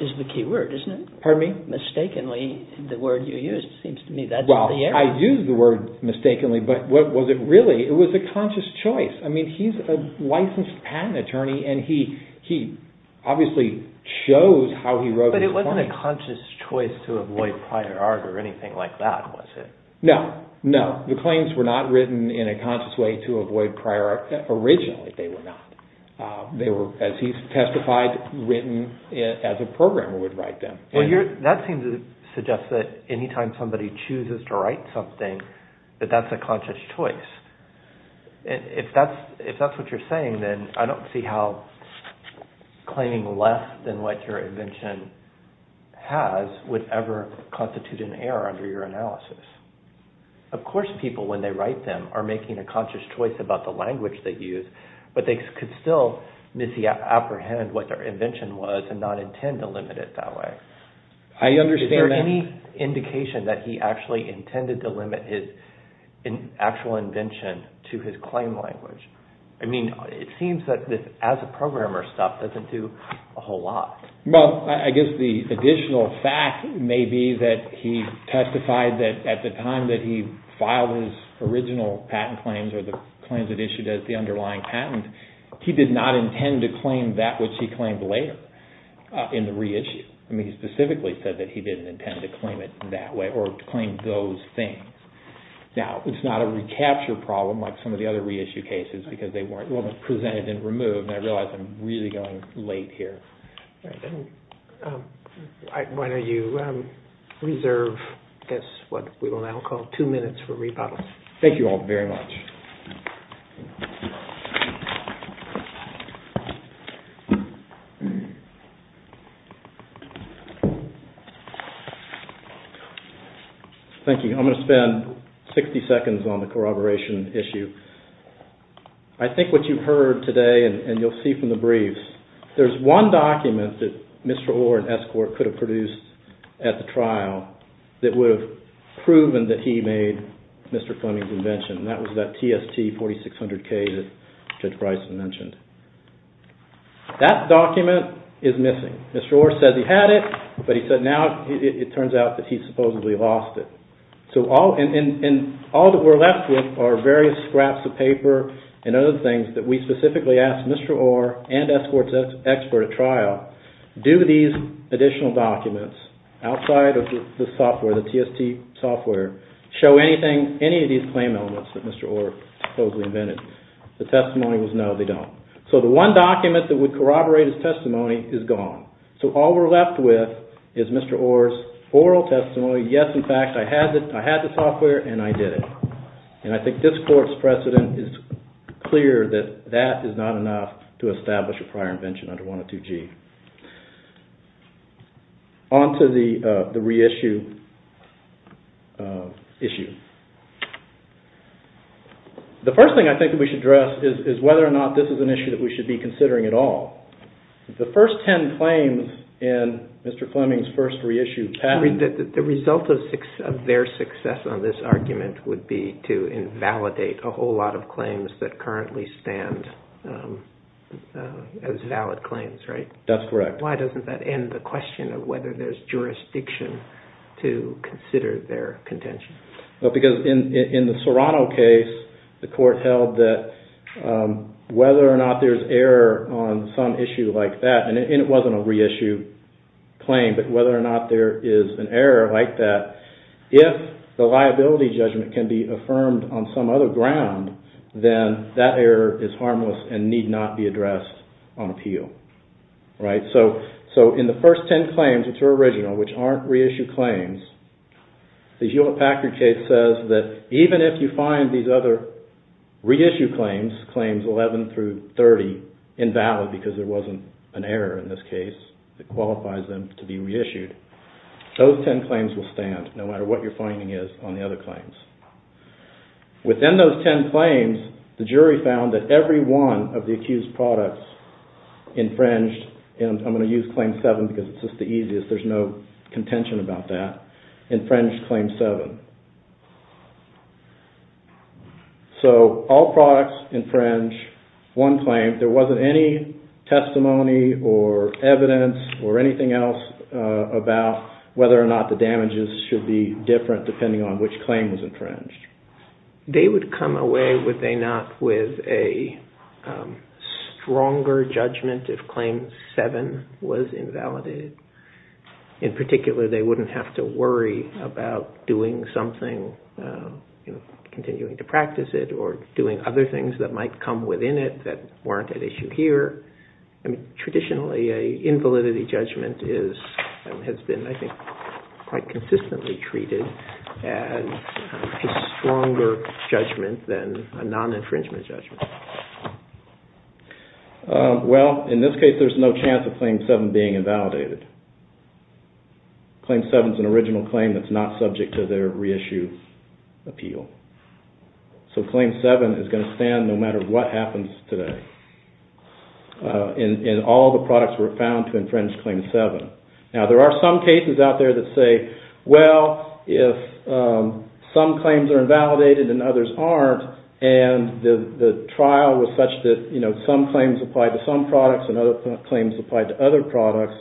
is the key word, isn't it? Pardon me? Mistakenly, the word you used, seems to me that's the error. Well, I used the word mistakenly, but what was it really? It was a conscious choice. I mean, he's a licensed patent attorney, and he obviously chose how he wrote his claims. But it wasn't a conscious choice to avoid prior art or anything like that, was it? No, no. The claims were not written in a conscious way to avoid prior art. Originally, they were not. They were, as he testified, written as a programmer would write them. That seems to suggest that any time somebody chooses to write something, that that's a conscious choice. If that's what you're saying, then I don't see how claiming less than what your invention has would ever constitute an error under your analysis. Of course people, when they write them, are making a conscious choice about the language they use, but they could still misapprehend what their invention was and not intend to limit it that way. I understand that. Is there any indication that he actually intended to limit his actual invention to his claim language? I mean, it seems that this as-a-programmer stuff doesn't do a whole lot. Well, I guess the additional fact may be that he testified that at the time that he filed his original patent claims or the claims that issued as the underlying patent, he did not intend to claim that which he claimed later in the reissue. I mean, he specifically said that he didn't intend to claim it that way or claim those things. Now, it's not a recapture problem like some of the other reissue cases because they weren't presented and removed, and I realize I'm really going late here. Why don't you reserve what we will now call two minutes for rebuttals. Thank you all very much. Thank you. I'm going to spend 60 seconds on the corroboration issue. I think what you've heard today, and you'll see from the briefs, there's one document that Mr. Orr and Escort could have produced at the trial that would have proven that he made Mr. Fleming's invention, and that was that TST 4600K that Judge Bryson mentioned. That document is missing. Mr. Orr said he had it, but he said now it turns out that he supposedly lost it. All that we're left with are various scraps of paper and other things that we specifically asked Mr. Orr and Escort's expert at trial, do these additional documents outside of the software, the TST software, show any of these claim elements that Mr. Orr supposedly invented. The testimony was no, they don't. So the one document that would corroborate his testimony is gone. So all we're left with is Mr. Orr's oral testimony, yes, in fact, I had the software and I did it. And I think this court's precedent is clear that that is not enough to establish a prior invention under 102G. On to the reissue issue. The first thing I think that we should address is whether or not this is an issue that we should be considering at all. The first ten claims in Mr. Fleming's first reissue pattern the result of their success on this argument would be to invalidate a whole lot of claims that currently stand as valid claims, right? That's correct. Why doesn't that end the question of whether there's jurisdiction to consider their contention? Because in the Serrano case, the court held that whether or not there's error on some issue like that, and it wasn't a reissue claim, but whether or not there is an error like that, if the liability judgment can be affirmed on some other ground, then that error is harmless and need not be addressed on appeal, right? So in the first ten claims, which are original, which aren't reissue claims, the Hewlett-Packard case says that even if you find these other reissue claims, claims 11 through 30, invalid because there wasn't an error in this case, that qualifies them to be reissued, those ten claims will stand no matter what your finding is on the other claims. Within those ten claims, the jury found that every one of the accused products infringed, and I'm going to use claim 7 because it's just the easiest, there's no contention about that, infringed claim 7. So all products infringe one claim, there wasn't any testimony or evidence or anything else about whether or not the damages should be different depending on which claim was infringed. They would come away, would they not, with a stronger judgment if claim 7 was invalidated. In particular, they wouldn't have to worry about doing something, continuing to practice it or doing other things that might come within it that weren't at issue here. Traditionally, an invalidity judgment has been, I think, quite consistently treated as a stronger judgment than a non-infringement judgment. Well, in this case, there's no chance of claim 7 being invalidated. Claim 7 is an original claim that's not subject to their reissue appeal. So claim 7 is going to stand no matter what happens today. And all the products were found to infringe claim 7. Now, there are some cases out there that say, well, if some claims are invalidated and others aren't, and the trial was such that some claims applied to some products and other claims applied to other products,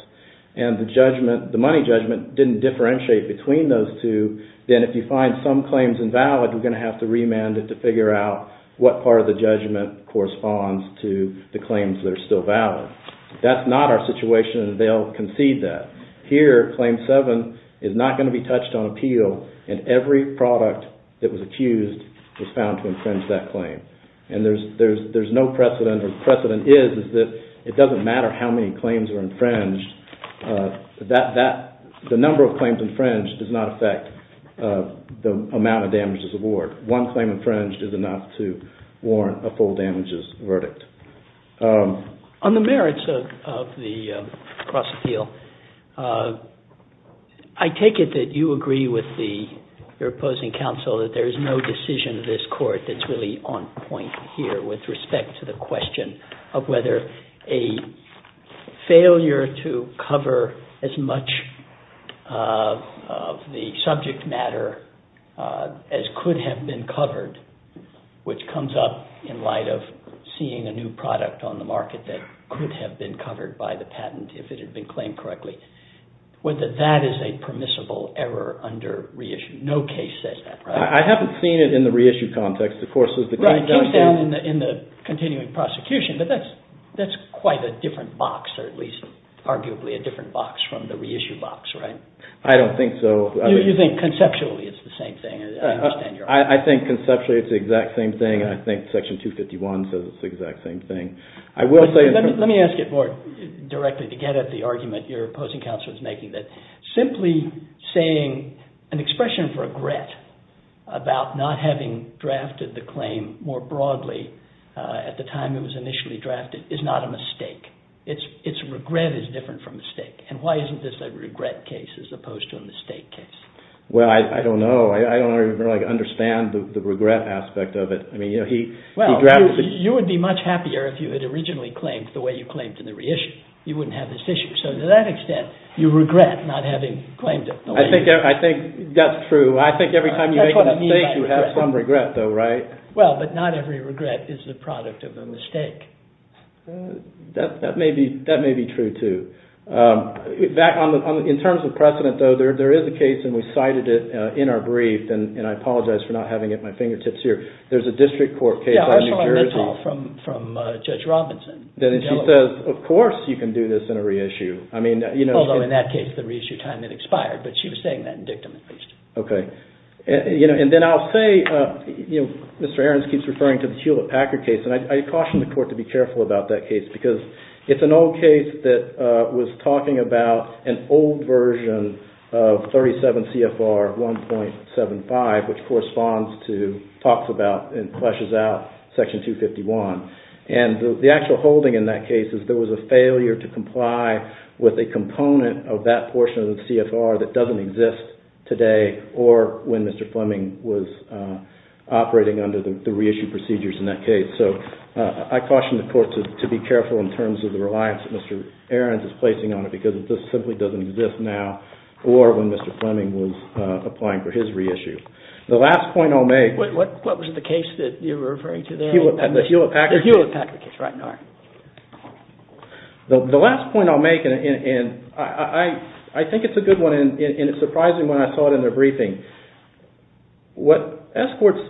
and the money judgment didn't differentiate between those two, then if you find some claims invalid, you're going to have to remand it to figure out what part of the judgment corresponds to the claims that are still valid. If that's not our situation, they'll concede that. Here, claim 7 is not going to be touched on appeal, and every product that was accused was found to infringe that claim. And there's no precedent, or the precedent is that it doesn't matter how many claims were infringed. The number of claims infringed does not affect the amount of damages award. One claim infringed is enough to warrant a full damages verdict. On the merits of the cross-appeal, I take it that you agree with your opposing counsel that there is no decision in this court that's really on point here with respect to the question of whether a failure to cover as much of the subject matter as could have been covered, which comes up in light of seeing a new product on the market that could have been covered by the patent if it had been claimed correctly, whether that is a permissible error under reissue. No case says that, right? I haven't seen it in the reissue context. It came down in the continuing prosecution, but that's quite a different box, or at least arguably a different box from the reissue box, right? I don't think so. You think conceptually it's the same thing. I understand your argument. I think conceptually it's the exact same thing. I think Section 251 says it's the exact same thing. Let me ask it more directly to get at the argument your opposing counsel is making, that simply saying an expression of regret about not having drafted the claim more broadly at the time it was initially drafted is not a mistake. Its regret is different from mistake, and why isn't this a regret case as opposed to a mistake case? Well, I don't know. I don't really understand the regret aspect of it. Well, you would be much happier if you had originally claimed the way you claimed in the reissue. You wouldn't have this issue. So to that extent, you regret not having claimed it. I think that's true. I think every time you make a mistake you have some regret, though, right? Well, but not every regret is the product of a mistake. That may be true, too. In terms of precedent, though, there is a case, and we cited it in our brief, and I apologize for not having it at my fingertips here. There's a district court case out of New Jersey. Yeah, Ursula Mittal from Judge Robinson. Then she says, of course you can do this in a reissue. Although in that case the reissue time had expired, but she was saying that in dictum at least. Okay. And then I'll say, Mr. Ahrens keeps referring to the Hewlett-Packard case, and I caution the court to be careful about that case because it's an old case that was talking about an old version of 37 CFR 1.75, which corresponds to, talks about, and fleshes out Section 251. And the actual holding in that case is there was a failure to comply with a component of that portion of the CFR that doesn't exist today or when Mr. Fleming was operating under the reissue procedures in that case. So I caution the court to be careful in terms of the reliance that Mr. Ahrens is placing on it because it just simply doesn't exist now or when Mr. Fleming was applying for his reissue. The last point I'll make... What was the case that you were referring to there? The Hewlett-Packard case. The Hewlett-Packard case, right. All right. The last point I'll make, and I think it's a good one, and it's surprising when I saw it in their briefing. What S Court's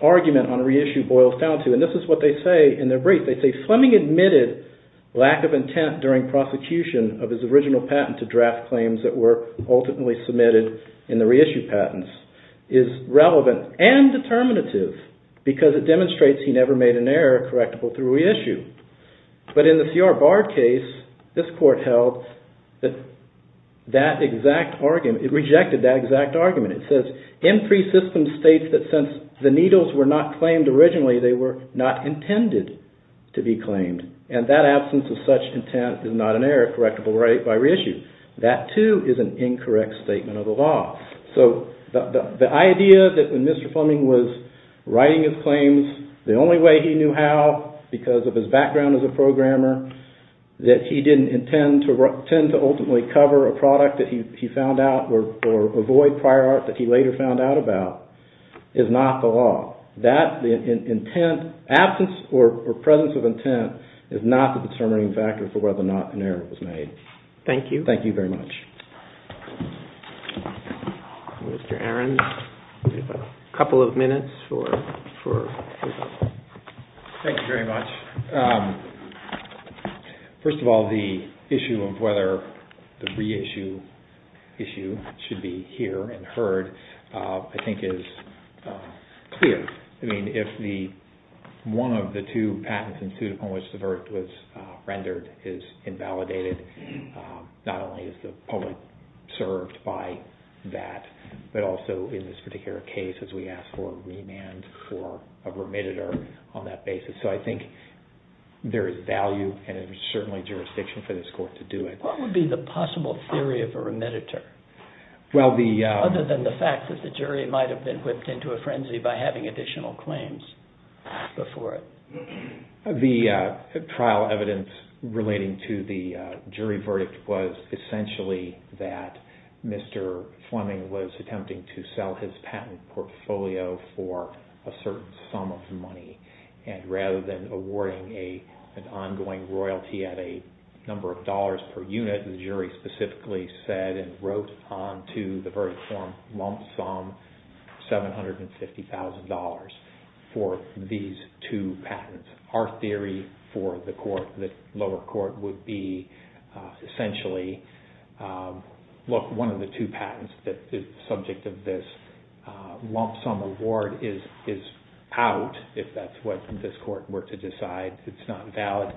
argument on reissue boils down to, and this is what they say in their brief. They say, Fleming admitted lack of intent during prosecution of his original patent to draft claims that were ultimately submitted in the reissue patents is relevant and determinative because it demonstrates he never made an error correctable through reissue. But in the C.R. Barr case, this court held that that exact argument... It rejected that exact argument. It says, M3 system states that since the needles were not claimed originally, they were not intended to be claimed, and that absence of such intent is not an error correctable by reissue. That, too, is an incorrect statement of the law. The only way he knew how, because of his background as a programmer, that he didn't intend to ultimately cover a product that he found out or avoid prior art that he later found out about, is not the law. That, the absence or presence of intent, is not the determining factor for whether or not an error was made. Thank you. Thank you very much. Mr. Arons, you have a couple of minutes for... Thank you very much. First of all, the issue of whether the reissue issue should be hear and heard, I think, is clear. I mean, if one of the two patents in suit upon which the vert was rendered is invalidated, not only is the public served by that, but also in this particular case, as we ask for a remand for a remitter on that basis. So I think there is value and certainly jurisdiction for this court to do it. What would be the possible theory of a remitter? Well, the... Other than the fact that the jury might have been whipped into a frenzy by having additional claims before it. The trial evidence relating to the jury verdict was essentially that Mr. Fleming was attempting to sell his patent portfolio for a certain sum of money. And rather than awarding an ongoing royalty at a number of dollars per unit, the jury specifically said and wrote onto the verdict form, lump sum $750,000 for these two patents. Our theory for the lower court would be essentially, look, one of the two patents that is subject of this lump sum award is out, if that's what this court were to decide it's not valid.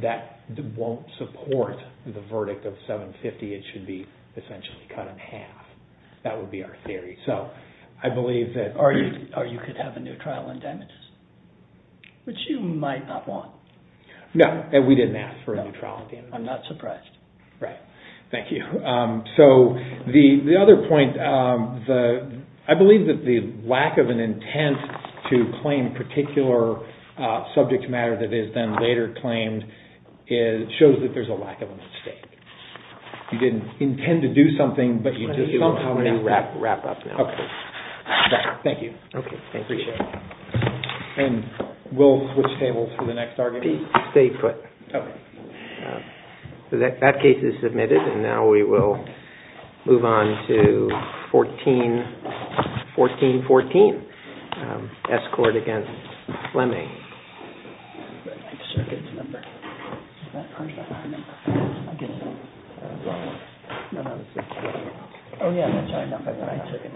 That won't support the verdict of $750,000. It should be essentially cut in half. That would be our theory. So I believe that... Or you could have a new trial indemnity, which you might not want. No, and we didn't ask for a new trial indemnity. I'm not surprised. Right. Thank you. So the other point, I believe that the lack of an intent to claim a particular subject matter that is then later claimed shows that there's a lack of a mistake. You didn't intend to do something, but you did somehow... Let me wrap up now. Thank you. Okay, thank you. Appreciate it. And we'll switch tables for the next argument. Stay put. Okay. That case is submitted and now we will move on to 1414, Escort against Fleming. No, no. Oh, yeah.